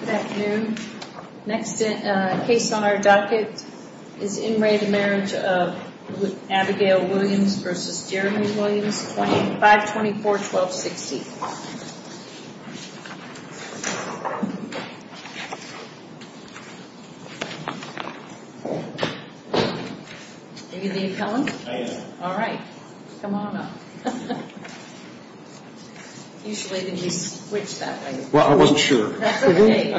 Good afternoon. Next case on our docket is In Re, the marriage of Abigail Williams v. Jeremy Williams, 524-1260. Are you the appellant? I am. Alright. Come on up. Usually when you switch that way. Well, I wasn't sure. That's okay.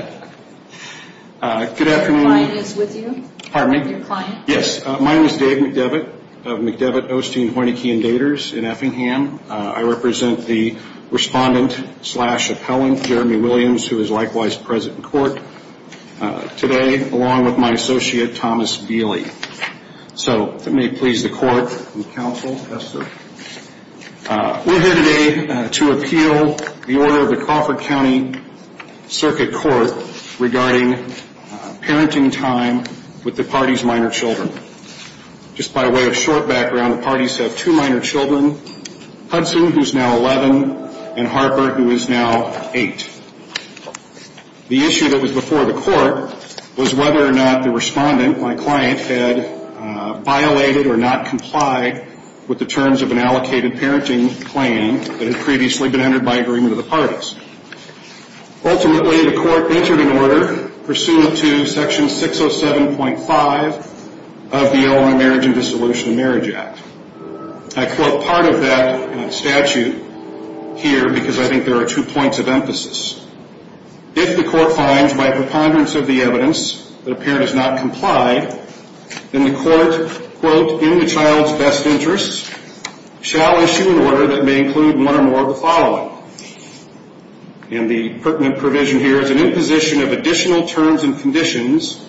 Good afternoon. Your client is with you? Pardon me? Your client? Yes. My name is Dave McDevitt of McDevitt, Osteen, Hoinecke, and Daters in Effingham. I represent the respondent-slash-appellant, Jeremy Williams, who is likewise present in court today, along with my associate, Thomas Beely. So if it may please the court and counsel. Yes, sir. We're here today to appeal the order of the Crawford County Circuit Court regarding parenting time with the party's minor children. Just by way of short background, the parties have two minor children, Hudson, who is now 11, and Harper, who is now 8. The issue that was before the court was whether or not the respondent, my client, had violated or not complied with the terms of an allocated parenting claim that had previously been entered by agreement of the parties. Ultimately, the court entered an order pursuant to Section 607.5 of the Illinois Marriage and Dissolution of Marriage Act. I quote part of that statute here because I think there are two points of emphasis. If the court finds, by preponderance of the evidence, that a parent has not complied, then the court, quote, in the child's best interests, shall issue an order that may include one or more of the following. And the pertinent provision here is an imposition of additional terms and conditions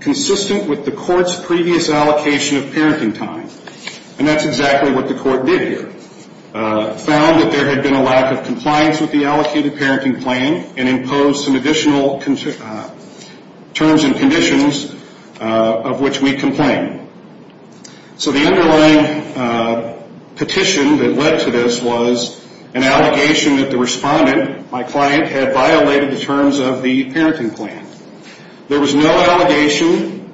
consistent with the court's previous allocation of parenting time. And that's exactly what the court did here, found that there had been a lack of compliance with the allocated parenting claim and imposed some additional terms and conditions of which we complain. So the underlying petition that led to this was an allegation that the respondent, my client, had violated the terms of the parenting claim. There was no allegation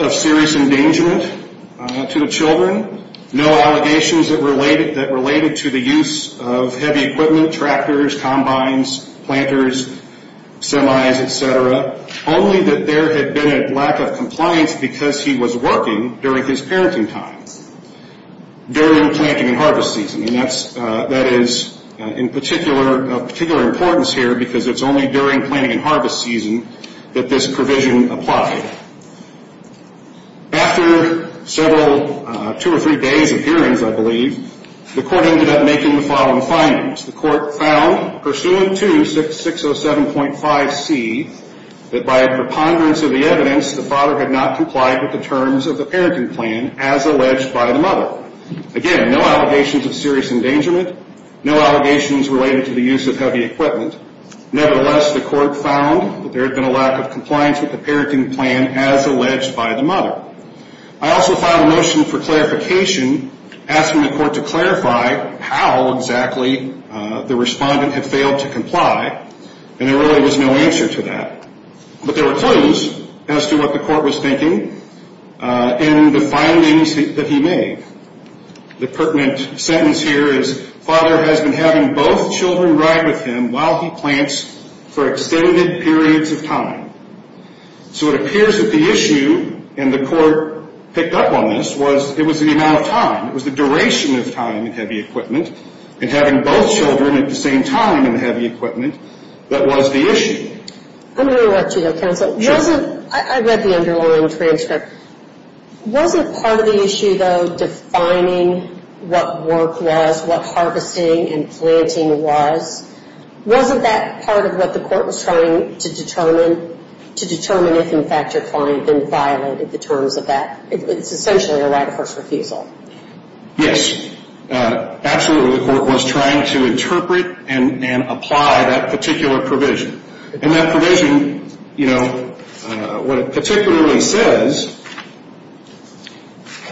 of serious endangerment to the children, no allegations that related to the use of heavy equipment, tractors, combines, planters, semis, et cetera, only that there had been a lack of compliance because he was working during his parenting time, during planting and harvest season. And that is of particular importance here because it's only during planting and harvest season that this provision applied. After several, two or three days of hearings, I believe, the court ended up making the following findings. The court found, pursuant to 607.5C, that by a preponderance of the evidence, the father had not complied with the terms of the parenting plan as alleged by the mother. Again, no allegations of serious endangerment, no allegations related to the use of heavy equipment. Nevertheless, the court found that there had been a lack of compliance with the parenting plan as alleged by the mother. I also filed a motion for clarification asking the court to clarify how exactly the respondent had failed to comply, and there really was no answer to that. But there were clues as to what the court was thinking in the findings that he made. The pertinent sentence here is, father has been having both children ride with him while he plants for extended periods of time. So it appears that the issue, and the court picked up on this, was it was the amount of time. It was the duration of time in heavy equipment, and having both children at the same time in heavy equipment, that was the issue. I'm going to interrupt you, though, counsel. Sure. I read the underlying transcript. Wasn't part of the issue, though, defining what work was, what harvesting and planting was? Wasn't that part of what the court was trying to determine, to determine if, in fact, your client had violated the terms of that? It's essentially a right of first refusal. Yes. Absolutely, the court was trying to interpret and apply that particular provision. And that provision, you know, what it particularly says,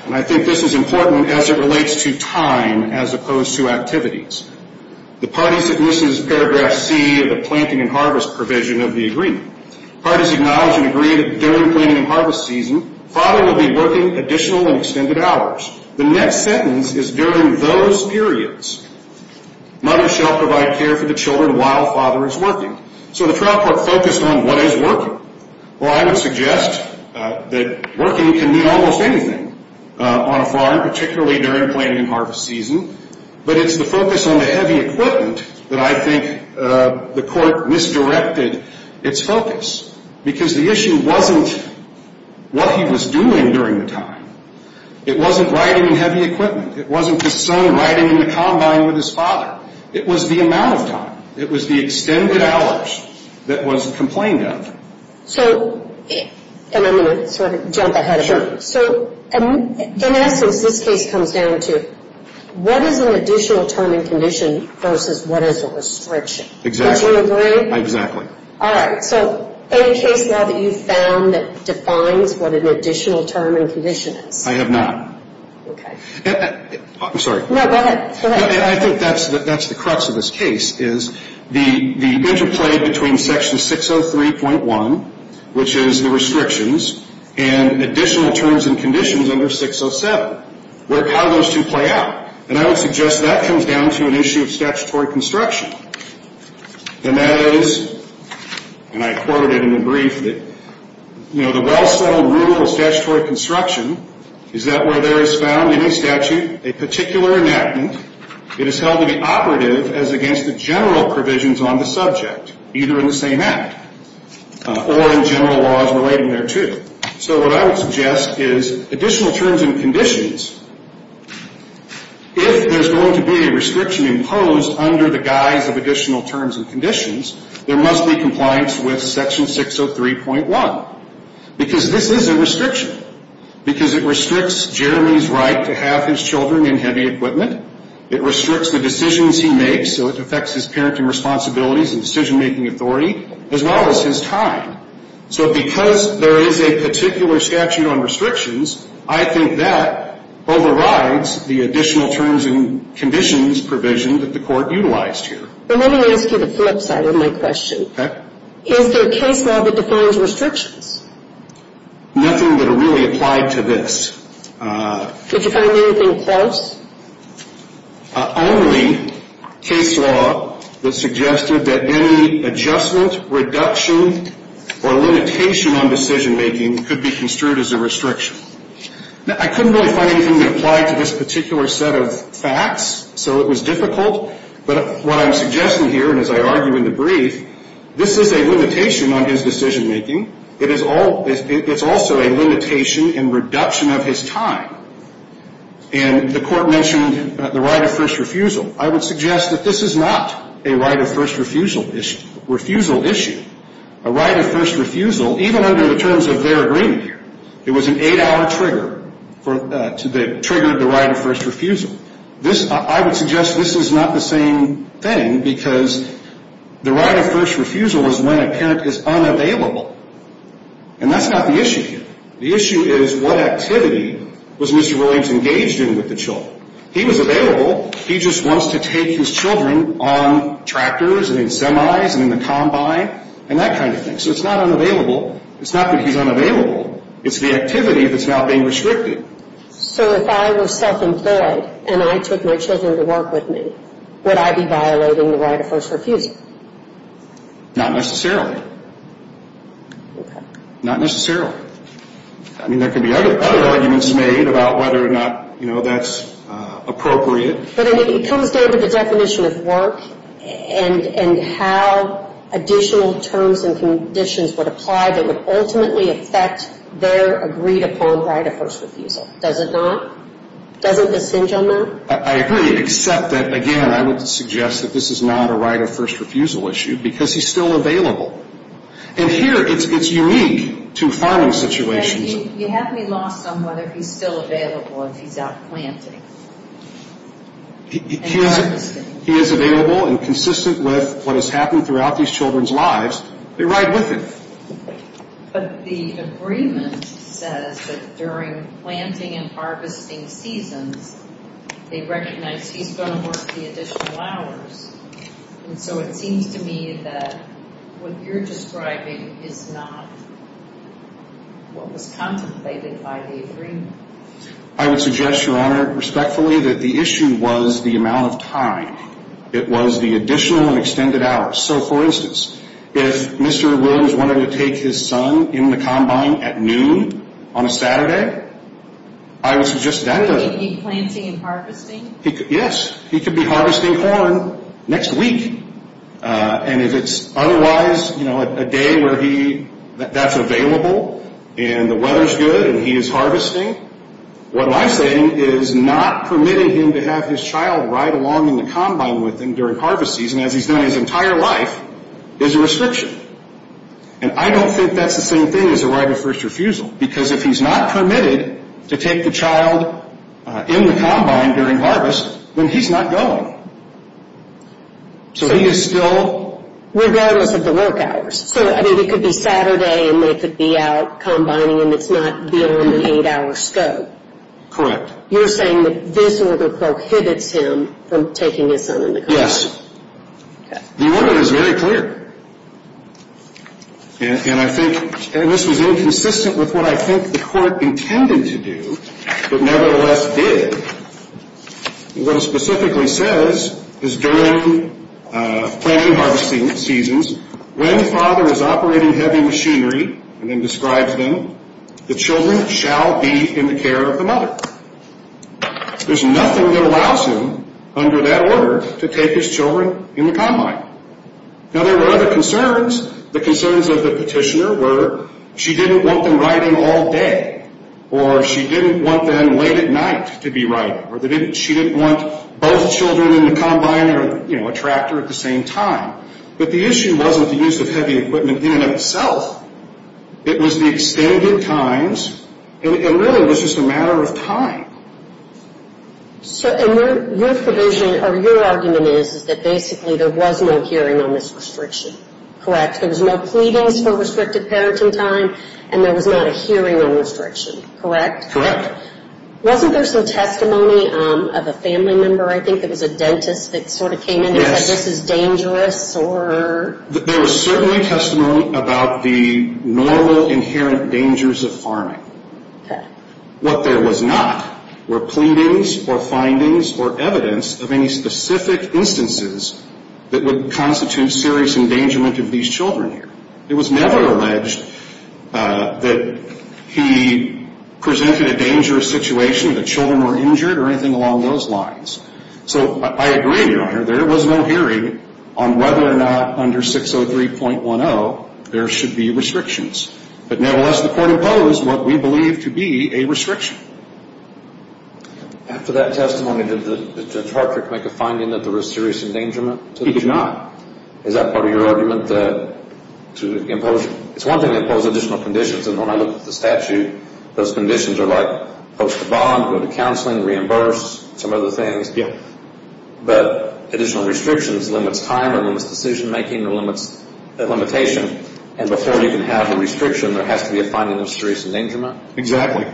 and I think this is important as it relates to time as opposed to activities. The parties that uses paragraph C of the planting and harvest provision of the agreement. Parties acknowledge and agree that during planting and harvest season, father will be working additional and extended hours. The next sentence is during those periods, mother shall provide care for the children while father is working. So the trial court focused on what is working. Well, I would suggest that working can mean almost anything on a farm, particularly during planting and harvest season. But it's the focus on the heavy equipment that I think the court misdirected its focus. Because the issue wasn't what he was doing during the time. It wasn't riding in heavy equipment. It wasn't the son riding in the combine with his father. It was the amount of time. It was the extended hours that was complained of. So, and I'm going to sort of jump ahead a bit. So in essence, this case comes down to what is an additional term and condition versus what is a restriction? Exactly. Would you agree? Exactly. All right. So any case law that you've found that defines what an additional term and condition is? I have not. Okay. I'm sorry. No, go ahead. Go ahead. Well, I think that's the crux of this case is the interplay between Section 603.1, which is the restrictions, and additional terms and conditions under 607. How do those two play out? And I would suggest that comes down to an issue of statutory construction. And that is, and I quoted it in the brief, that, you know, a well-settled rule of statutory construction is that where there is found in a statute a particular enactment, it is held to be operative as against the general provisions on the subject, either in the same act, or in general laws relating thereto. So what I would suggest is additional terms and conditions, if there's going to be a restriction imposed under the guise of additional terms and conditions, there must be compliance with Section 603.1. Because this is a restriction. Because it restricts Jeremy's right to have his children in heavy equipment. It restricts the decisions he makes, so it affects his parenting responsibilities and decision-making authority, as well as his time. So because there is a particular statute on restrictions, I think that overrides the additional terms and conditions provision that the Court utilized here. Well, let me ask you the flip side of my question. Okay. Is there a case law that defines restrictions? Nothing that really applied to this. Did you find anything close? Only case law that suggested that any adjustment, reduction, or limitation on decision-making could be construed as a restriction. Now, I couldn't really find anything that applied to this particular set of facts, so it was difficult. But what I'm suggesting here, and as I argue in the brief, this is a limitation on his decision-making. It is also a limitation and reduction of his time. And the Court mentioned the right of first refusal. I would suggest that this is not a right of first refusal issue. A right of first refusal, even under the terms of their agreement here, it was an eight-hour trigger to the right of first refusal. I would suggest this is not the same thing because the right of first refusal is when a parent is unavailable. And that's not the issue here. The issue is what activity was Mr. Williams engaged in with the children. He was available. He just wants to take his children on tractors and in semis and in the combine and that kind of thing. So it's not unavailable. It's not that he's unavailable. It's the activity that's now being restricted. So if I were self-employed and I took my children to work with me, would I be violating the right of first refusal? Not necessarily. Okay. Not necessarily. I mean, there could be other arguments made about whether or not, you know, that's appropriate. But it comes down to the definition of work and how additional terms and conditions would apply that would ultimately affect their agreed upon right of first refusal. Does it not? Doesn't this hinge on that? I agree, except that, again, I would suggest that this is not a right of first refusal issue because he's still available. And here it's unique to farming situations. You have me lost on whether he's still available if he's out planting. He is available and consistent with what has happened throughout these children's lives. They ride with it. But the agreement says that during planting and harvesting seasons, they recognize he's going to work the additional hours. And so it seems to me that what you're describing is not what was contemplated by the agreement. I would suggest, Your Honor, respectfully, that the issue was the amount of time. It was the additional and extended hours. So, for instance, if Mr. Williams wanted to take his son in the combine at noon on a Saturday, I would suggest that doesn't. He'd be planting and harvesting? Yes, he could be harvesting corn next week. And if it's otherwise, you know, a day where that's available and the weather's good and he is harvesting, what I'm saying is not permitting him to have his child ride along in the combine with him during harvest season as he's done his entire life is a restriction. And I don't think that's the same thing as a right of first refusal, because if he's not permitted to take the child in the combine during harvest, then he's not going. So he is still... Regardless of the work hours. So, I mean, it could be Saturday and they could be out combining and it's not within an eight-hour scope. Correct. You're saying that this order prohibits him from taking his son in the combine. Yes. The order is very clear. And I think this was inconsistent with what I think the court intended to do, but nevertheless did. What it specifically says is during planting and harvesting seasons, when the father is operating heavy machinery, and then describes them, the children shall be in the care of the mother. There's nothing that allows him under that order to take his children in the combine. Now, there were other concerns. The concerns of the petitioner were she didn't want them riding all day, or she didn't want them late at night to be riding, or she didn't want both children in the combine or a tractor at the same time. But the issue wasn't the use of heavy equipment in and of itself. It was the extended times. It really was just a matter of time. So, and your provision, or your argument is, is that basically there was no hearing on this restriction. Correct. There was no pleadings for restricted parenting time, and there was not a hearing on restriction. Correct? Correct. Wasn't there some testimony of a family member, I think, that was a dentist that sort of came in and said this is dangerous? There was certainly testimony about the normal, inherent dangers of farming. Okay. What there was not were pleadings or findings or evidence of any specific instances that would constitute serious endangerment of these children here. It was never alleged that he presented a dangerous situation, that children were injured or anything along those lines. So I agree, Your Honor, there was no hearing on whether or not under 603.10 there should be restrictions. But nevertheless, the court imposed what we believe to be a restriction. After that testimony, did Judge Hartford make a finding that there was serious endangerment to the child? He did not. Is that part of your argument that to impose? It's one thing to impose additional conditions, and when I look at the statute, those conditions are like post bond, go to counseling, reimburse, some other things. But additional restrictions limits time or limits decision-making or limits limitation, and before you can have a restriction, there has to be a finding of serious endangerment? Exactly.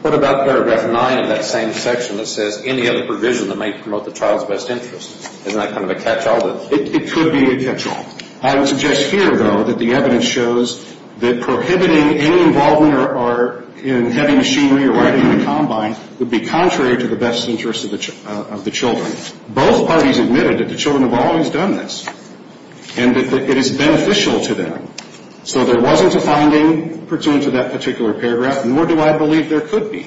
What about paragraph 9 of that same section that says any other provision that may promote the child's best interest? Isn't that kind of a catch-all? It could be a catch-all. I would suggest here, though, that the evidence shows that prohibiting any involvement in heavy machinery or riding in a combine would be contrary to the best interest of the children. Both parties admitted that the children have always done this and that it is beneficial to them. So there wasn't a finding pursuant to that particular paragraph, nor do I believe there could be,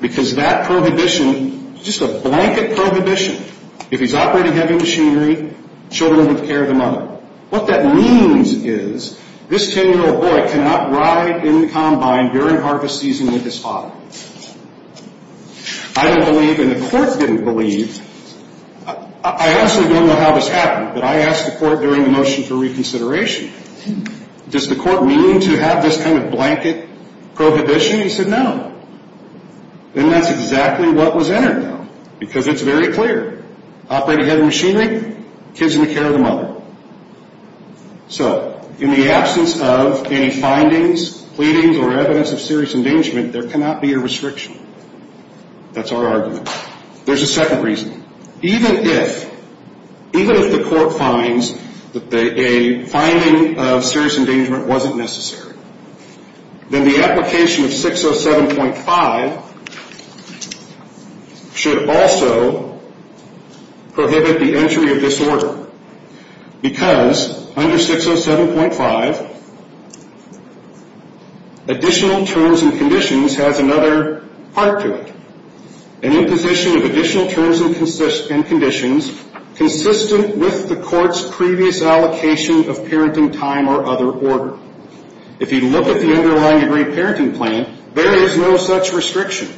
because that prohibition is just a blanket prohibition. If he's operating heavy machinery, children would care of the mother. What that means is this 10-year-old boy cannot ride in the combine during harvest season with his father. I don't believe, and the court didn't believe, I honestly don't know how this happened, but I asked the court during the motion for reconsideration, does the court mean to have this kind of blanket prohibition? He said no. Then that's exactly what was entered, though, because it's very clear. Operating heavy machinery, kids in the care of the mother. So in the absence of any findings, pleadings, or evidence of serious endangerment, there cannot be a restriction. That's our argument. There's a second reason. Even if the court finds that a finding of serious endangerment wasn't necessary, then the application of 607.5 should also prohibit the entry of this order, because under 607.5, additional terms and conditions has another part to it, an imposition of additional terms and conditions consistent with the court's previous allocation of parenting time or other order. If you look at the underlying agreed parenting plan, there is no such restriction.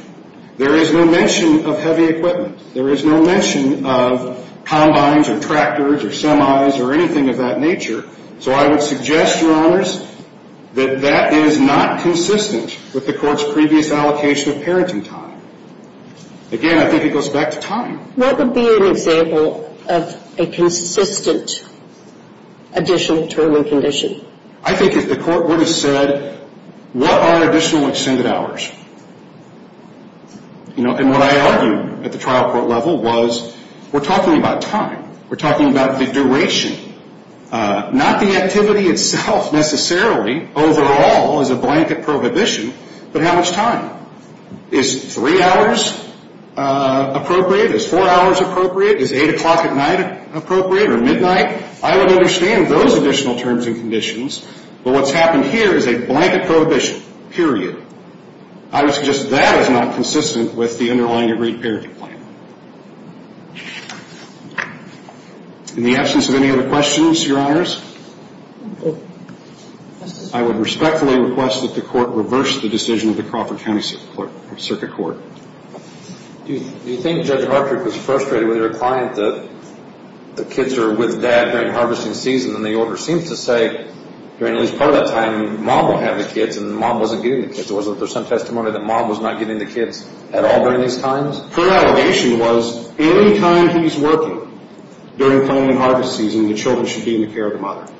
There is no mention of heavy equipment. There is no mention of combines or tractors or semis or anything of that nature. So I would suggest, Your Honors, that that is not consistent with the court's previous allocation of parenting time. Again, I think it goes back to time. What would be an example of a consistent additional term and condition? I think if the court would have said, what are additional extended hours? And what I argued at the trial court level was we're talking about time. We're talking about the duration, not the activity itself necessarily overall as a blanket prohibition, but how much time. Is three hours appropriate? Is four hours appropriate? Is 8 o'clock at night appropriate or midnight? I would understand those additional terms and conditions, but what's happened here is a blanket prohibition, period. I would suggest that is not consistent with the underlying agreed parenting plan. In the absence of any other questions, Your Honors, I would respectfully request that the court reverse the decision of the Crawford County Circuit Court. Do you think Judge Hartrick was frustrated with her client that the kids are with dad during harvesting season? And the order seems to say during at least part of that time mom will have the kids and mom wasn't getting the kids. Was there some testimony that mom was not getting the kids at all during these times? Her allegation was any time he's working during planting and harvest season, the children should be in the care of the mother.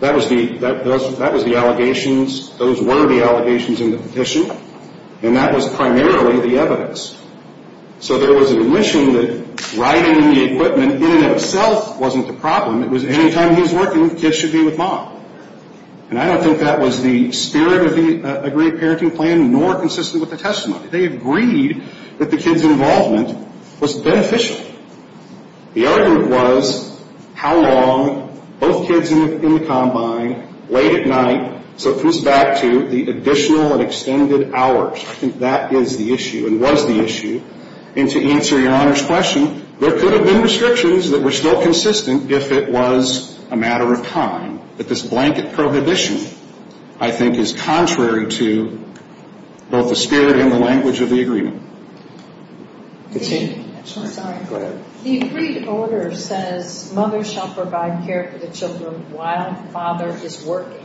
That was the allegations. Those were the allegations in the petition. And that was primarily the evidence. So there was an admission that riding the equipment in and of itself wasn't the problem. It was any time he's working, the kids should be with mom. And I don't think that was the spirit of the agreed parenting plan nor consistent with the testimony. They agreed that the kids' involvement was beneficial. The argument was how long both kids in the combine, late at night, So it comes back to the additional and extended hours. I think that is the issue and was the issue. And to answer your Honor's question, there could have been restrictions that were still consistent if it was a matter of time. But this blanket prohibition I think is contrary to both the spirit and the language of the agreement. Go ahead. The agreed order says mother shall provide care for the children while father is working.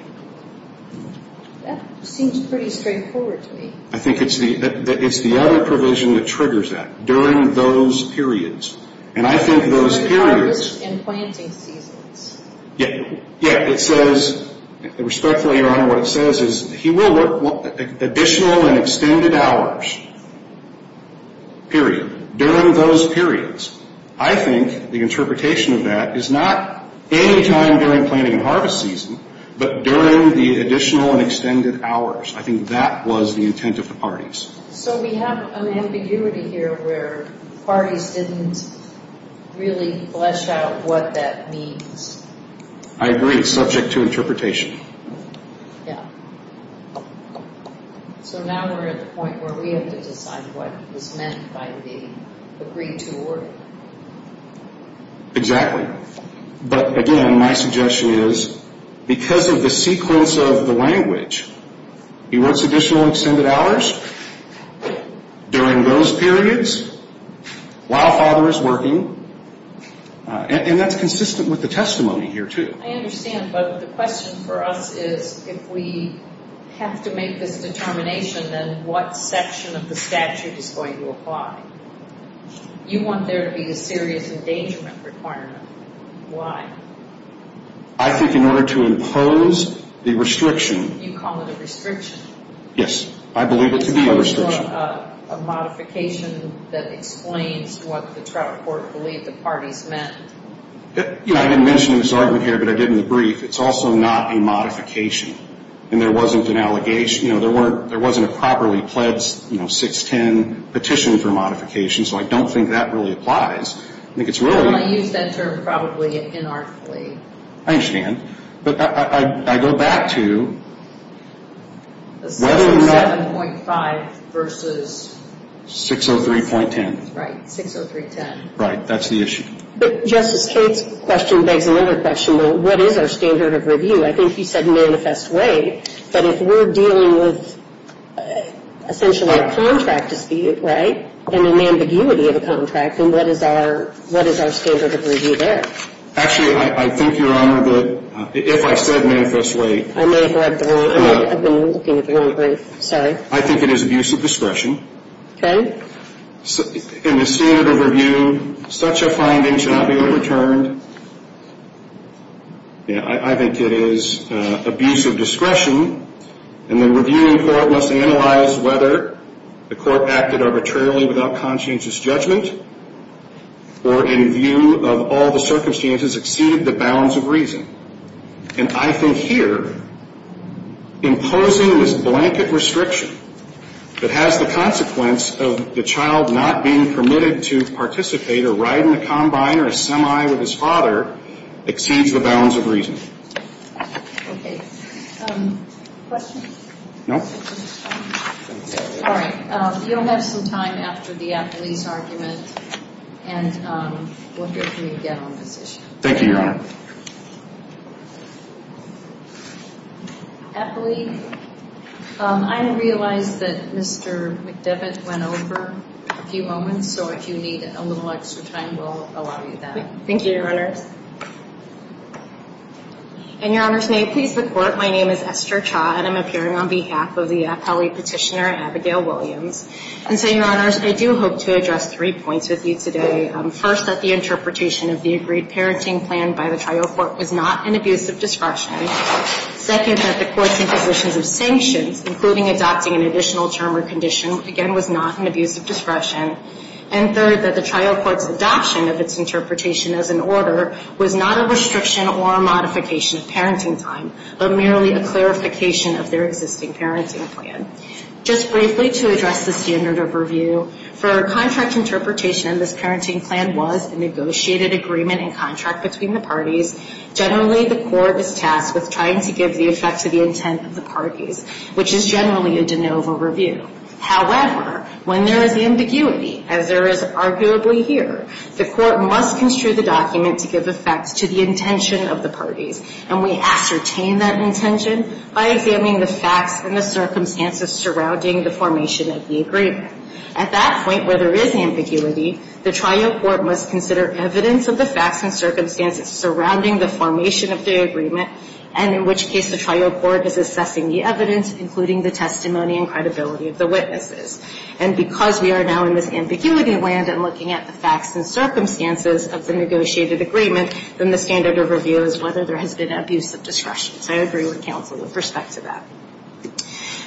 That seems pretty straightforward to me. I think it's the other provision that triggers that during those periods. And I think those periods. During harvest and planting seasons. Yeah, it says, respectfully your Honor, what it says is he will work additional and extended hours. Period. During those periods. I think the interpretation of that is not any time during planting and harvest season, But during the additional and extended hours. I think that was the intent of the parties. So we have an ambiguity here where parties didn't really flesh out what that means. I agree. It's subject to interpretation. Yeah. So now we're at the point where we have to decide what was meant by the agreed to order. Exactly. But again, my suggestion is because of the sequence of the language, He works additional and extended hours. During those periods. While father is working. And that's consistent with the testimony here too. I understand, but the question for us is if we have to make this determination, Then what section of the statute is going to apply? You want there to be a serious endangerment requirement. Why? I think in order to impose the restriction. You call it a restriction. Yes. I believe it to be a restriction. A modification that explains what the Trout Court believed the parties meant. I didn't mention this argument here, but I did in the brief. It's also not a modification. And there wasn't an allegation. There wasn't a properly pledged 610 petition for modification. So I don't think that really applies. I don't use that term probably inarticulately. I understand. But I go back to whether or not. 67.5 versus. 603.10. Right. 603.10. Right. That's the issue. But Justice Kate's question begs another question. What is our standard of review? I think you said manifest way. But if we're dealing with essentially a contract dispute, right? And an ambiguity of a contract. And what is our standard of review there? Actually, I think, Your Honor, that if I said manifest way. I may have been looking at the wrong brief. Sorry. I think it is abuse of discretion. Okay. In the standard of review, such a finding shall not be overturned. I think it is abuse of discretion. And the reviewing court must analyze whether the court acted arbitrarily without conscientious judgment or in view of all the circumstances exceeded the bounds of reason. And I think here imposing this blanket restriction that has the consequence of the child not being permitted to participate or ride in a combine or a semi with his father exceeds the bounds of reason. Okay. Questions? No. All right. You'll have some time after the Apley's argument. And we'll hear from you again on this issue. Thank you, Your Honor. Apley, I realize that Mr. McDevitt went over a few moments. So if you need a little extra time, we'll allow you that. Thank you, Your Honors. And, Your Honors, may it please the Court, my name is Esther Cha and I'm appearing on behalf of the Apley petitioner, Abigail Williams. And so, Your Honors, I do hope to address three points with you today. First, that the interpretation of the agreed parenting plan by the trial court was not an abuse of discretion. Second, that the court's imposition of sanctions, including adopting an additional term or condition, again was not an abuse of discretion. And third, that the trial court's adoption of its interpretation as an order was not a restriction or a modification of parenting time, but merely a clarification of their existing parenting plan. Just briefly, to address the standard of review, for contract interpretation, this parenting plan was a negotiated agreement in contract between the parties. Generally, the court is tasked with trying to give the effect to the intent of the parties, which is generally a de novo review. However, when there is ambiguity, as there is arguably here, the court must construe the document to give effect to the intention of the parties. And we ascertain that intention by examining the facts and the circumstances surrounding the formation of the agreement. At that point, where there is ambiguity, the trial court must consider evidence of the facts and circumstances surrounding the formation of the agreement, and in which case the trial court is assessing the evidence, including the testimony and credibility of the witnesses. And because we are now in this ambiguity land and looking at the facts and circumstances of the negotiated agreement, then the standard of review is whether there has been abuse of discretion. So I agree with counsel with respect to that.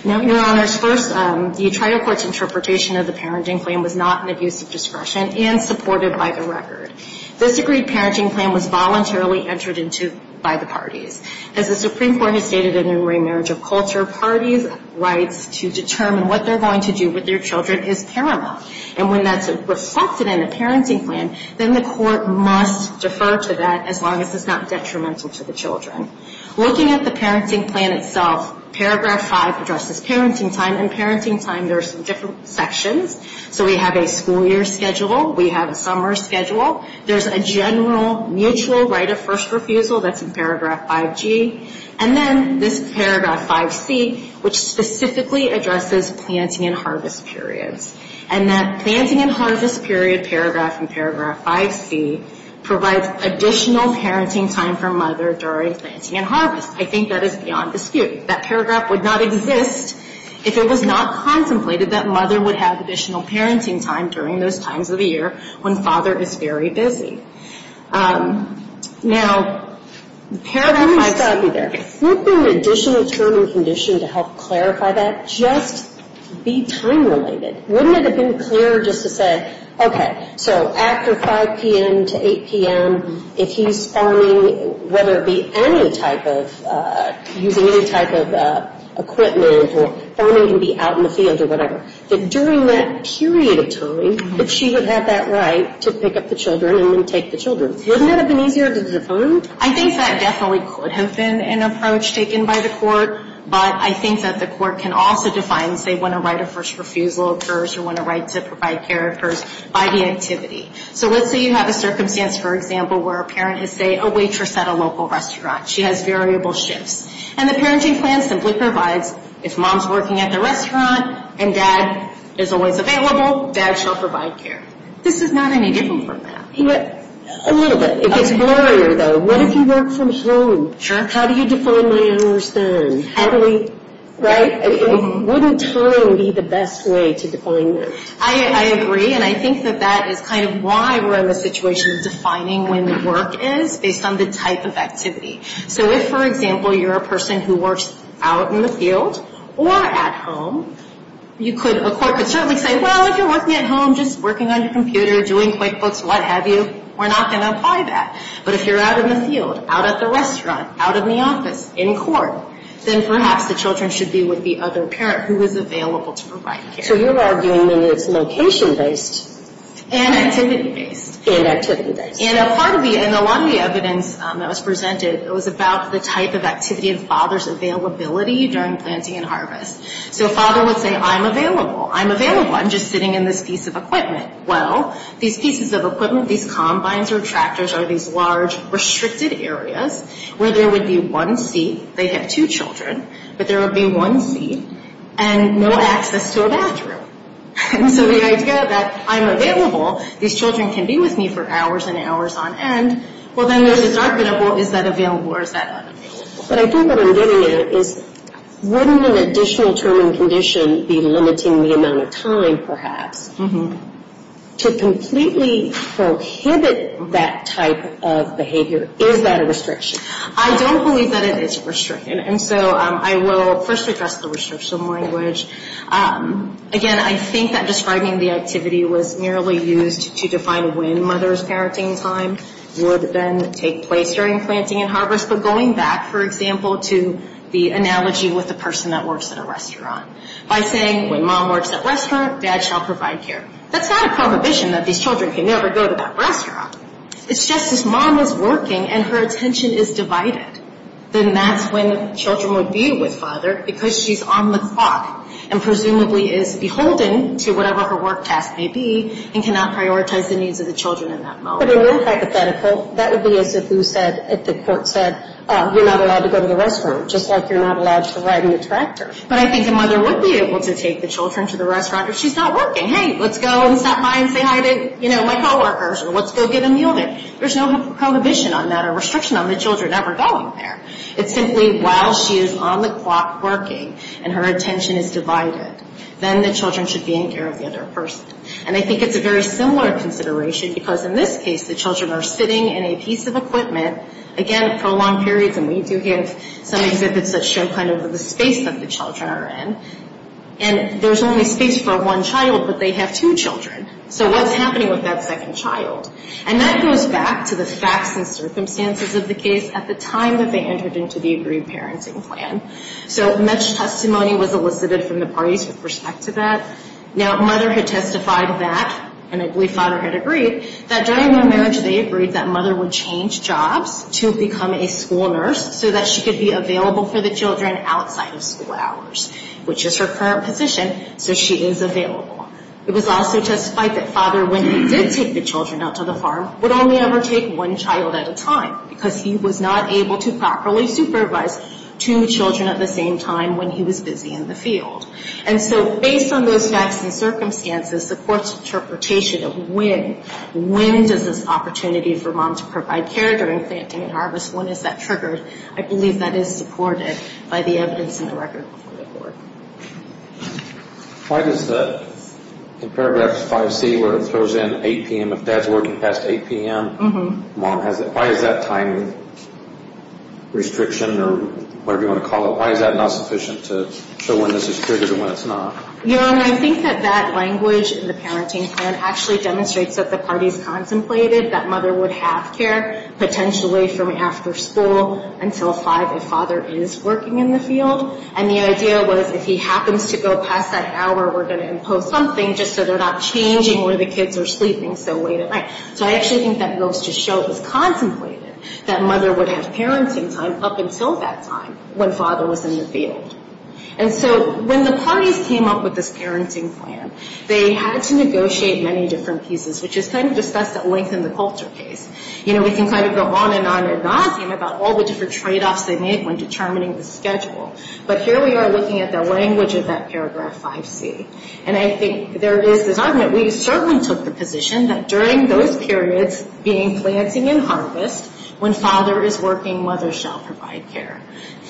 Now, Your Honors, first, the trial court's interpretation of the parenting plan was not an abuse of discretion and supported by the record. This agreed parenting plan was voluntarily entered into by the parties. As the Supreme Court has stated in the remarriage of culture, parties' rights to determine what they're going to do with their children is paramount. And when that's reflected in the parenting plan, then the court must defer to that as long as it's not detrimental to the children. Looking at the parenting plan itself, paragraph 5 addresses parenting time, and parenting time, there are some different sections. So we have a school year schedule. We have a summer schedule. There's a general mutual right of first refusal that's in paragraph 5G. And then this paragraph 5C, which specifically addresses planting and harvest periods. And that planting and harvest period paragraph in paragraph 5C provides additional parenting time for mother during planting and harvest. I think that is beyond dispute. That paragraph would not exist if it was not contemplated that mother would have additional parenting time during those times of the year when father is very busy. Now, paragraph 5C there. Wouldn't an additional term and condition to help clarify that just be time-related? Wouldn't it have been clearer just to say, okay, so after 5 p.m. to 8 p.m., if he's farming, whether it be any type of using any type of equipment or farming can be out in the field or whatever, that during that period of time that she would have that right to pick up the children and then take the children. Wouldn't that have been easier to define? I think that definitely could have been an approach taken by the court. But I think that the court can also define, say, when a right of first refusal occurs or when a right to provide care occurs by the activity. So let's say you have a circumstance, for example, where a parent has, say, a waitress at a local restaurant. She has variable shifts. And the parenting plan simply provides if mom's working at the restaurant and dad is always available, dad shall provide care. This is not any different from that. A little bit. It gets blurrier, though. What if you work from home? How do you define my hours then? Wouldn't time be the best way to define that? I agree, and I think that that is kind of why we're in the situation of defining when work is based on the type of activity. So if, for example, you're a person who works out in the field or at home, a court could certainly say, well, if you're working at home, just working on your computer, doing QuickBooks, what have you, we're not going to apply that. But if you're out in the field, out at the restaurant, out in the office, in court, then perhaps the children should be with the other parent who is available to provide care. So you're arguing that it's location-based. And activity-based. And activity-based. And a lot of the evidence that was presented, it was about the type of activity of father's availability during planting and harvest. So a father would say, I'm available. I'm available. I'm just sitting in this piece of equipment. Well, these pieces of equipment, these combines or tractors, are these large restricted areas where there would be one seat. They have two children, but there would be one seat and no access to a bathroom. And so the idea that I'm available, these children can be with me for hours and hours on end, well, then there's this argument of, well, is that available or is that unavailable? But I think what I'm getting at is, wouldn't an additional term and condition be limiting the amount of time, perhaps? To completely prohibit that type of behavior, is that a restriction? I don't believe that it is a restriction. And so I will first address the restriction language. Again, I think that describing the activity was merely used to define when mother's parenting time would then take place during planting and harvest. But going back, for example, to the analogy with the person that works at a restaurant. By saying, when mom works at restaurant, dad shall provide care. That's not a prohibition that these children can never go to that restaurant. It's just, if mom is working and her attention is divided, then that's when children would be with father because she's on the clock and presumably is beholden to whatever her work task may be and cannot prioritize the needs of the children in that moment. But in your hypothetical, that would be as if the court said, you're not allowed to go to the restaurant, just like you're not allowed to ride in the tractor. But I think a mother would be able to take the children to the restaurant if she's not working. Hey, let's go and stop by and say hi to, you know, my co-workers and let's go get a meal there. There's no prohibition on that or restriction on the children ever going there. It's simply while she is on the clock working and her attention is divided. Then the children should be in care of the other person. And I think it's a very similar consideration because in this case, the children are sitting in a piece of equipment. Again, prolonged periods, and we do have some exhibits that show kind of the space that the children are in. And there's only space for one child, but they have two children. So what's happening with that second child? And that goes back to the facts and circumstances of the case at the time that they entered into the agreed parenting plan. So much testimony was elicited from the parties with respect to that. Now, mother had testified that, and I believe father had agreed, that during their marriage they agreed that mother would change jobs to become a school nurse so that she could be available for the children outside of school hours, which is her current position. So she is available. It was also testified that father, when he did take the children out to the farm, would only ever take one child at a time because he was not able to properly supervise two children at the same time when he was busy in the field. And so based on those facts and circumstances, the court's interpretation of when, when does this opportunity for mom to provide care during planting and harvest, when is that triggered, I believe that is supported by the evidence in the record before the court. Why does the, in paragraph 5C where it throws in 8 p.m., if dad's working past 8 p.m., mom has, why is that time restriction or whatever you want to call it, why is that not sufficient to show when this is triggered and when it's not? Your Honor, I think that that language in the parenting plan actually demonstrates that the parties contemplated that mother would have care potentially from after school until 5 if father is working in the field. And the idea was if he happens to go past that hour, we're going to impose something just so they're not changing where the kids are sleeping so late at night. So I actually think that goes to show it was contemplated that mother would have parenting time up until that time when father was in the field. And so when the parties came up with this parenting plan, they had to negotiate many different pieces, which is kind of discussed at length in the culture case. You know, we can kind of go on and on and on about all the different tradeoffs they made when determining the schedule, but here we are looking at the language of that paragraph 5C. And I think there is this argument. We certainly took the position that during those periods, being planting and harvest, when father is working, mother shall provide care.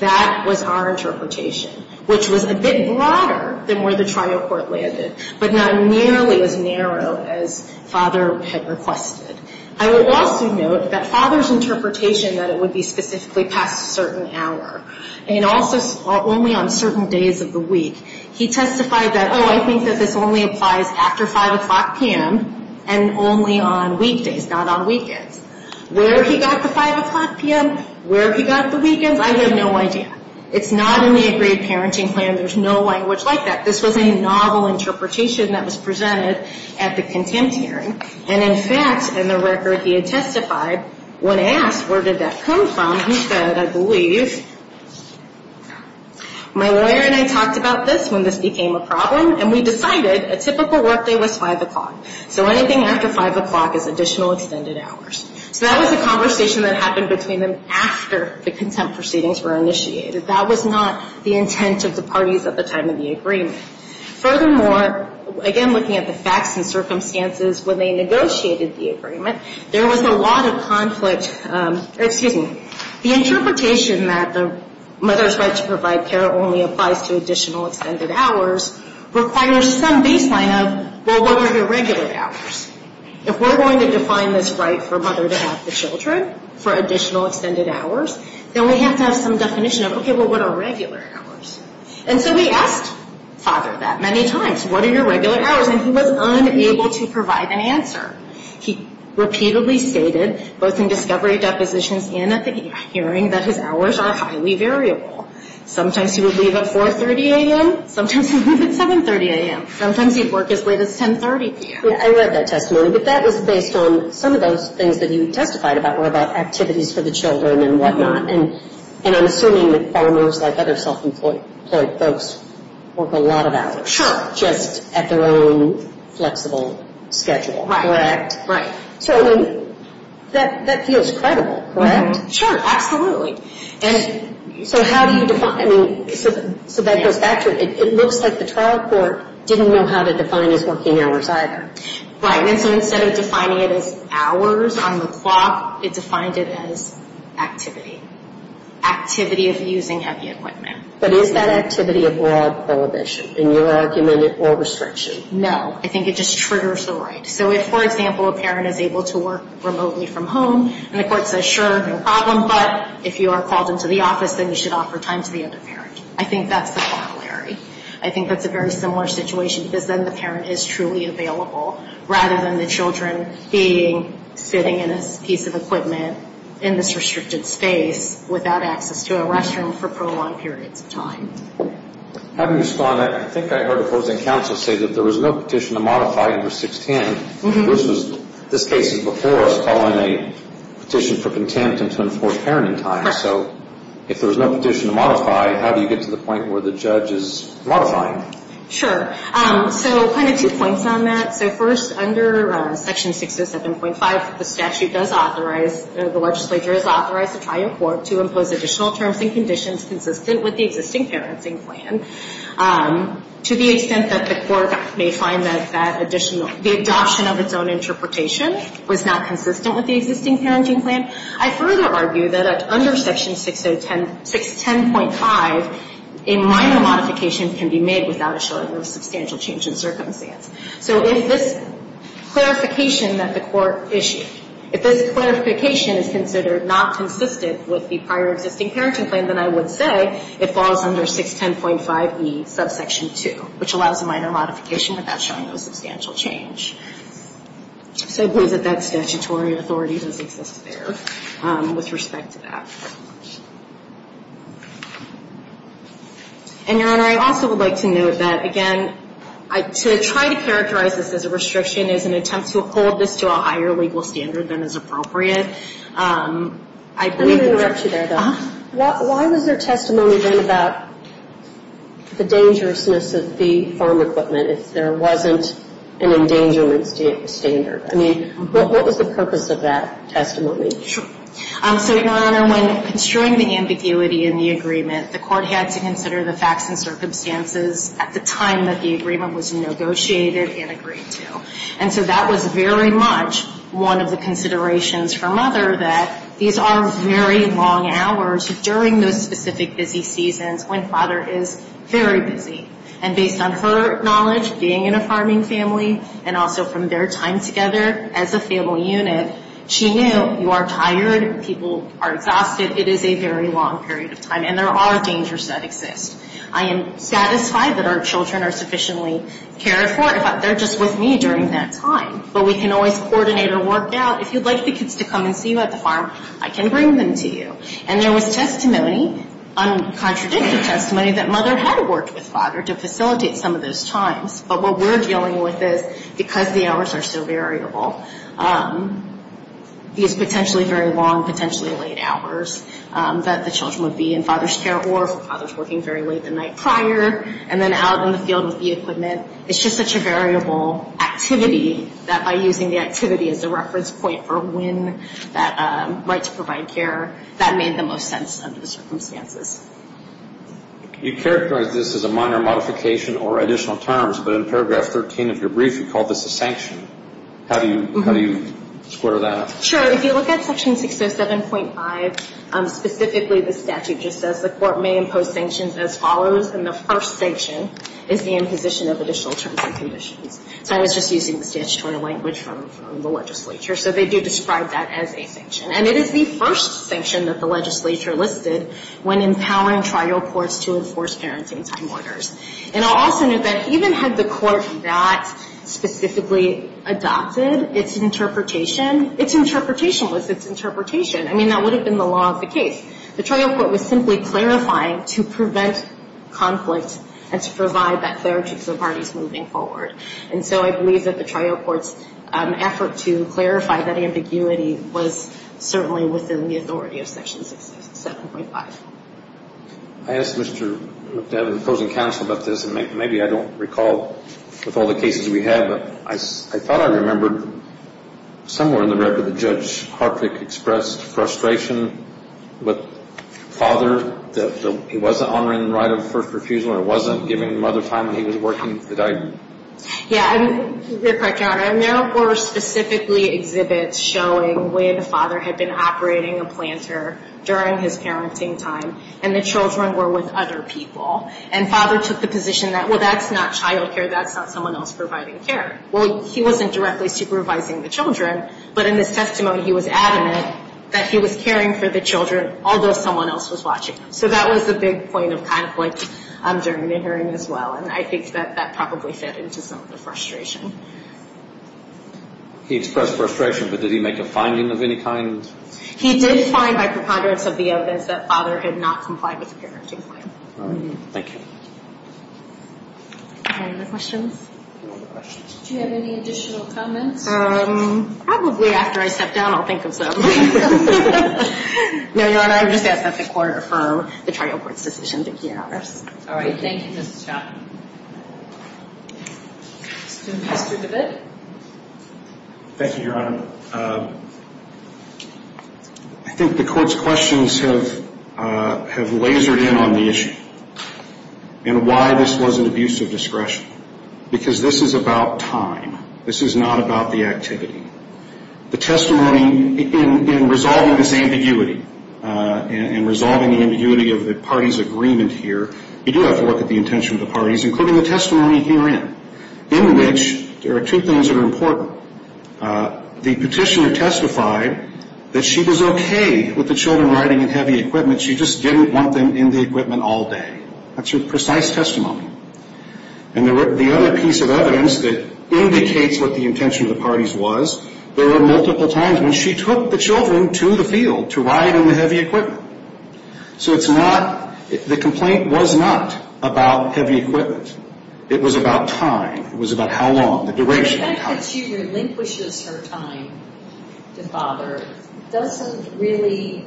That was our interpretation, which was a bit broader than where the trial court landed, but not nearly as narrow as father had requested. I will also note that father's interpretation that it would be specifically past a certain hour and also only on certain days of the week, he testified that, oh, I think that this only applies after 5 o'clock p.m. and only on weekdays, not on weekends. Where he got the 5 o'clock p.m., where he got the weekends, I have no idea. It's not in the agreed parenting plan. There's no language like that. This was a novel interpretation that was presented at the contempt hearing. And in fact, in the record he had testified, when asked where did that come from, he said, I believe, my lawyer and I talked about this when this became a problem, and we decided a typical workday was 5 o'clock. So anything after 5 o'clock is additional extended hours. So that was a conversation that happened between them after the contempt proceedings were initiated. That was not the intent of the parties at the time of the agreement. Furthermore, again, looking at the facts and circumstances when they negotiated the agreement, there was a lot of conflict. Excuse me. The interpretation that the mother's right to provide care only applies to additional extended hours requires some baseline of, well, what are your regular hours? If we're going to define this right for a mother to have the children for additional extended hours, then we have to have some definition of, okay, well, what are regular hours? And so he asked father that many times. What are your regular hours? And he was unable to provide an answer. He repeatedly stated, both in discovery depositions and at the hearing, that his hours are highly variable. Sometimes he would leave at 4.30 a.m. Sometimes he'd leave at 7.30 a.m. Sometimes he'd work as late as 10.30 p.m. I read that testimony, but that was based on some of those things that you testified about were about activities for the children and whatnot, and I'm assuming that farmers, like other self-employed folks, work a lot of hours. Sure. Just at their own flexible schedule. Right. Correct? Right. So that feels credible, correct? Sure, absolutely. And so how do you define it? So that goes back to it. It looks like the trial court didn't know how to define his working hours either. Right. And so instead of defining it as hours on the clock, it defined it as activity. Activity of using heavy equipment. But is that activity a broad prohibition, in your argument, or restriction? No. I think it just triggers the right. So if, for example, a parent is able to work remotely from home, and the court says, sure, no problem, but if you are called into the office, then you should offer time to the other parent. I think that's the corollary. I think that's a very similar situation, because then the parent is truly available, rather than the children sitting in a piece of equipment in this restricted space without access to a restroom for prolonged periods of time. Having responded, I think I heard opposing counsel say that there was no petition to modify under 610. This case is before us following a petition for contempt and to enforce parenting time. If there's no petition to modify, how do you get to the point where the judge is modifying? Sure. So kind of two points on that. So first, under Section 607.5, the statute does authorize, the legislature is authorized to try in court to impose additional terms and conditions consistent with the existing parenting plan. To the extent that the court may find that the adoption of its own interpretation was not consistent with the existing parenting plan. I further argue that under Section 610.5, a minor modification can be made without a showing of substantial change in circumstance. So if this clarification that the court issued, if this clarification is considered not consistent with the prior existing parenting plan, then I would say it falls under 610.5e, subsection 2, which allows a minor modification without showing no substantial change. So I believe that that statutory authority does exist there with respect to that. And, Your Honor, I also would like to note that, again, to try to characterize this as a restriction is an attempt to hold this to a higher legal standard than is appropriate. Let me interrupt you there, though. Why was there testimony then about the dangerousness of the farm equipment if there wasn't an endangerment standard? I mean, what was the purpose of that testimony? Sure. So, Your Honor, when construing the ambiguity in the agreement, the court had to consider the facts and circumstances at the time that the agreement was negotiated and agreed to. And so that was very much one of the considerations for Mother, that these are very long hours during those specific busy seasons when Father is very busy. And based on her knowledge, being in a farming family, and also from their time together as a family unit, she knew you are tired, people are exhausted. It is a very long period of time, and there are dangers that exist. I am satisfied that our children are sufficiently cared for. They're just with me during that time. But we can always coordinate or work out, if you'd like the kids to come and see you at the farm, I can bring them to you. And there was testimony, uncontradictive testimony, that Mother had worked with Father to facilitate some of those times. But what we're dealing with is, because the hours are so variable, these potentially very long, potentially late hours that the children would be in Father's care or if Father's working very late the night prior, and then out in the field with the equipment, it's just such a variable activity that by using the activity as a reference point for when that right to provide care, that made the most sense under the circumstances. You characterize this as a minor modification or additional terms, but in paragraph 13 of your brief you call this a sanction. How do you square that up? Sure. If you look at section 607.5, specifically the statute just says, the court may impose sanctions as follows, and the first sanction is the imposition of additional terms and conditions. So I was just using the statutory language from the legislature. So they do describe that as a sanction. And it is the first sanction that the legislature listed when empowering trial courts to enforce parenting time orders. And I'll also note that even had the court not specifically adopted its interpretation, its interpretation was its interpretation. I mean, that would have been the law of the case. The trial court was simply clarifying to prevent conflict and to provide that clarity to the parties moving forward. And so I believe that the trial court's effort to clarify that ambiguity was certainly within the authority of section 607.5. I asked Mr. McDevitt, opposing counsel, about this, and maybe I don't recall with all the cases we had, but I thought I remembered somewhere in the record that Judge Hartwig expressed frustration with father that he wasn't honoring the right of first refusal or wasn't giving mother time when he was working the diary. Yeah, you're correct, Your Honor. And there were specifically exhibits showing where the father had been operating a planter during his parenting time and the children were with other people. And father took the position that, well, that's not child care. That's not someone else providing care. Well, he wasn't directly supervising the children, but in his testimony he was adamant that he was caring for the children although someone else was watching. So that was the big point of conflict during the hearing as well, and I think that that probably fed into some of the frustration. He expressed frustration, but did he make a finding of any kind? He did find by preponderance of the evidence that father had not complied with the parenting plan. All right. Thank you. Any other questions? Do you have any additional comments? Probably after I step down I'll think of some. No, Your Honor, I would just ask that the Court affirm the trial court's decision. Thank you, Your Honor. All right. Thank you, Ms. Chapman. Mr. David. Thank you, Your Honor. I think the Court's questions have lasered in on the issue and why this was an abuse of discretion because this is about time. This is not about the activity. The testimony in resolving this ambiguity and resolving the ambiguity of the parties' agreement here, you do have to look at the intention of the parties, including the testimony herein, in which there are two things that are important. The petitioner testified that she was okay with the children riding in heavy equipment. She just didn't want them in the equipment all day. That's her precise testimony. And the other piece of evidence that indicates what the intention of the parties was, there were multiple times when she took the children to the field to ride in the heavy equipment. So the complaint was not about heavy equipment. It was about time. It was about how long, the duration. The fact that she relinquishes her time to father doesn't really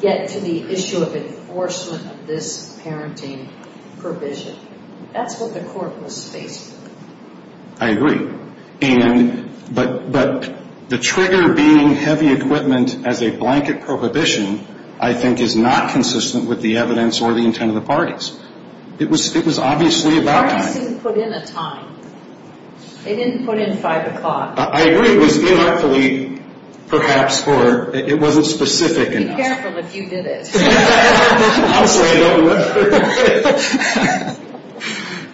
get to the issue of enforcement of this parenting provision. That's what the court was faced with. I agree. But the trigger being heavy equipment as a blanket prohibition, I think is not consistent with the evidence or the intent of the parties. It was obviously about time. The parties didn't put in a time. They didn't put in 5 o'clock. I agree. It was unartfully, perhaps, or it wasn't specific enough. Be careful if you did it. Honestly, I don't know.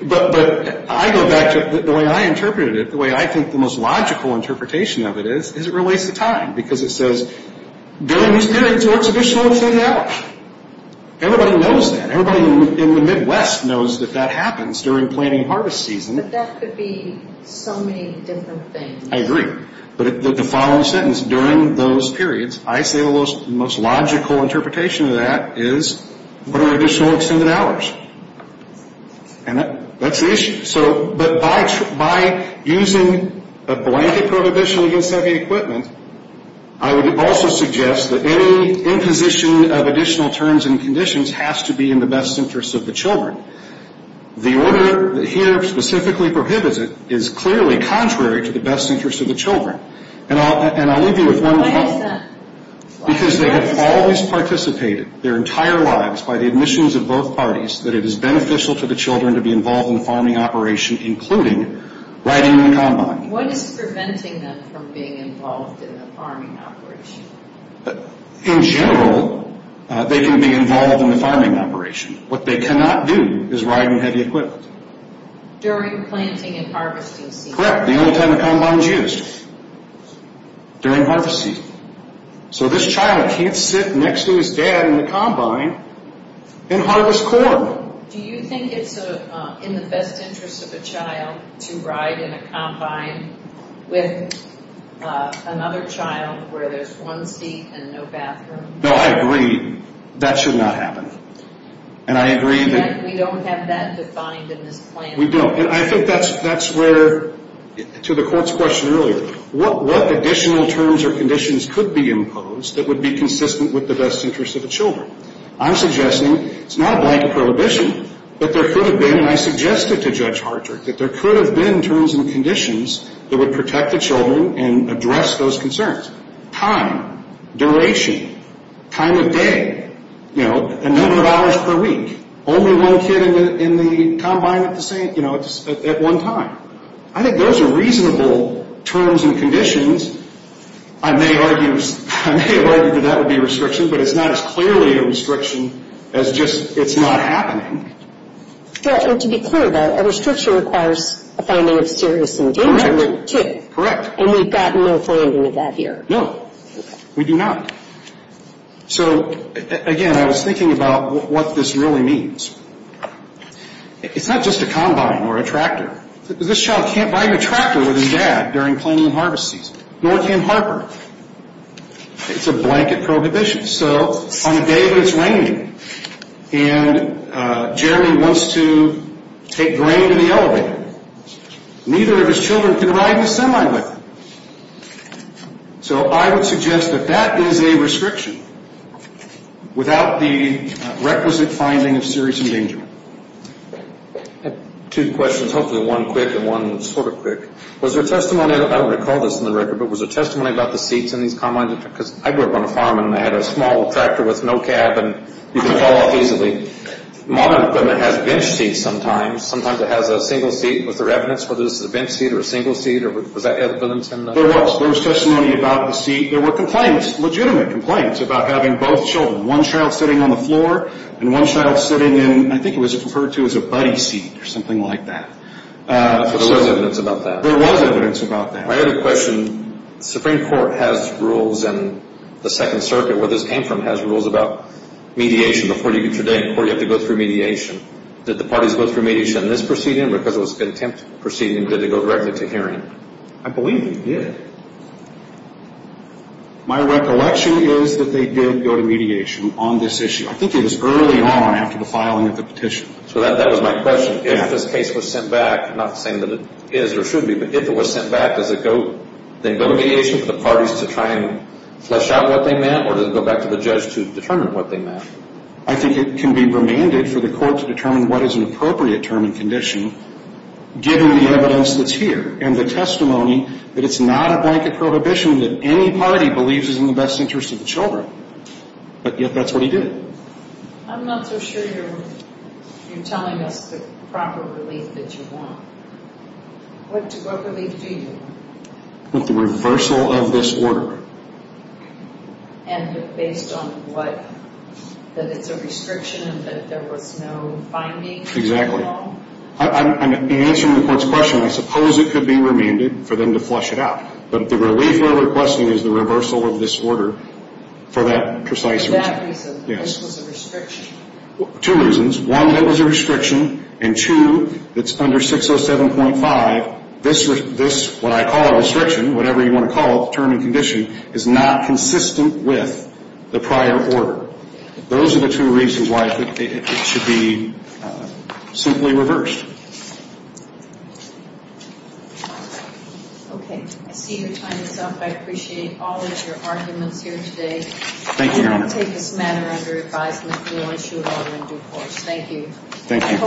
But I go back to the way I interpreted it, the way I think the most logical interpretation of it is, is it relates to time. Because it says, during these periods, or it's additional within an hour. Everybody knows that. Everybody in the Midwest knows that that happens during planting harvest season. But that could be so many different things. I agree. But the following sentence, during those periods, I say the most logical interpretation of that is, what are additional extended hours? And that's the issue. But by using a blanket prohibition against heavy equipment, I would also suggest that any imposition of additional terms and conditions has to be in the best interest of the children. The order here specifically prohibits it is clearly contrary to the best interest of the children. And I'll leave you with one comment. Why is that? Because they have always participated their entire lives by the admissions of both parties, that it is beneficial to the children to be involved in the farming operation, including riding the combine. What is preventing them from being involved in the farming operation? In general, they can be involved in the farming operation. What they cannot do is ride on heavy equipment. During planting and harvesting season. Correct. The only time the combine is used. During harvest season. So this child can't sit next to his dad in the combine and harvest corn. Do you think it's in the best interest of a child to ride in a combine with another child where there's one seat and no bathroom? No, I agree. That should not happen. And I agree that... We don't have that defined in this plan. We don't. And I think that's where, to the court's question earlier, what additional terms or conditions could be imposed that would be consistent with the best interest of the children? I'm suggesting it's not a blanket prohibition, but there could have been, and I suggested to Judge Hartrick, that there could have been terms and conditions that would protect the children and address those concerns. Time, duration, time of day, you know, the number of hours per week. Only one kid in the combine at the same, you know, at one time. I think those are reasonable terms and conditions. I may argue that that would be a restriction, but it's not as clearly a restriction as just it's not happening. To be clear, though, a restriction requires a finding of serious endangerment, too. Correct. And we've got no finding of that here. No, we do not. So, again, I was thinking about what this really means. It's not just a combine or a tractor. This child can't ride a tractor with his dad during planting and harvest season, nor can Harper. It's a blanket prohibition. So on a day when it's raining and Jeremy wants to take grain to the elevator, neither of his children can ride in the semi with him. So I would suggest that that is a restriction without the requisite finding of serious endangerment. I have two questions, hopefully one quick and one sort of quick. Was there testimony, I don't want to call this on the record, but was there testimony about the seats in these combines? Because I grew up on a farm and I had a small tractor with no cab, and you could fall off easily. Modern equipment has bench seats sometimes. Sometimes it has a single seat. Was there evidence whether this is a bench seat or a single seat? There was. There was testimony about the seat. There were complaints, legitimate complaints, about having both children, one child sitting on the floor and one child sitting in, I think it was referred to as a buddy seat or something like that. So there was evidence about that? There was evidence about that. I have a question. The Supreme Court has rules and the Second Circuit, where this came from, has rules about mediation. Before you get your day in court, you have to go through mediation. Did the parties go through mediation in this proceeding because it was a contempt proceeding? Did it go directly to hearing? I believe it did. My recollection is that they did go to mediation on this issue. I think it was early on after the filing of the petition. So that was my question. If this case was sent back, not saying that it is or should be, but if it was sent back, does it go to mediation for the parties to try and flesh out what they meant, or does it go back to the judge to determine what they meant? I think it can be remanded for the court to determine what is an appropriate term and condition given the evidence that's here and the testimony that it's not a blanket prohibition that any party believes is in the best interest of the children. But yet that's what he did. I'm not so sure you're telling us the proper relief that you want. What relief do you want? The reversal of this order. And based on what? That it's a restriction and that there was no finding? I'm answering the court's question. I suppose it could be remanded for them to flesh it out. But the relief we're requesting is the reversal of this order for that precise reason. For that reason. Yes. This was a restriction. Two reasons. One, it was a restriction, and two, it's under 607.5. This, what I call a restriction, whatever you want to call it, term and condition, is not consistent with the prior order. Those are the two reasons why it should be simply reversed. Okay. I see your time is up. I appreciate all of your arguments here today. Thank you, Your Honor. I'm going to take this matter under advisement. We will issue an order in due course. Thank you. Thank you.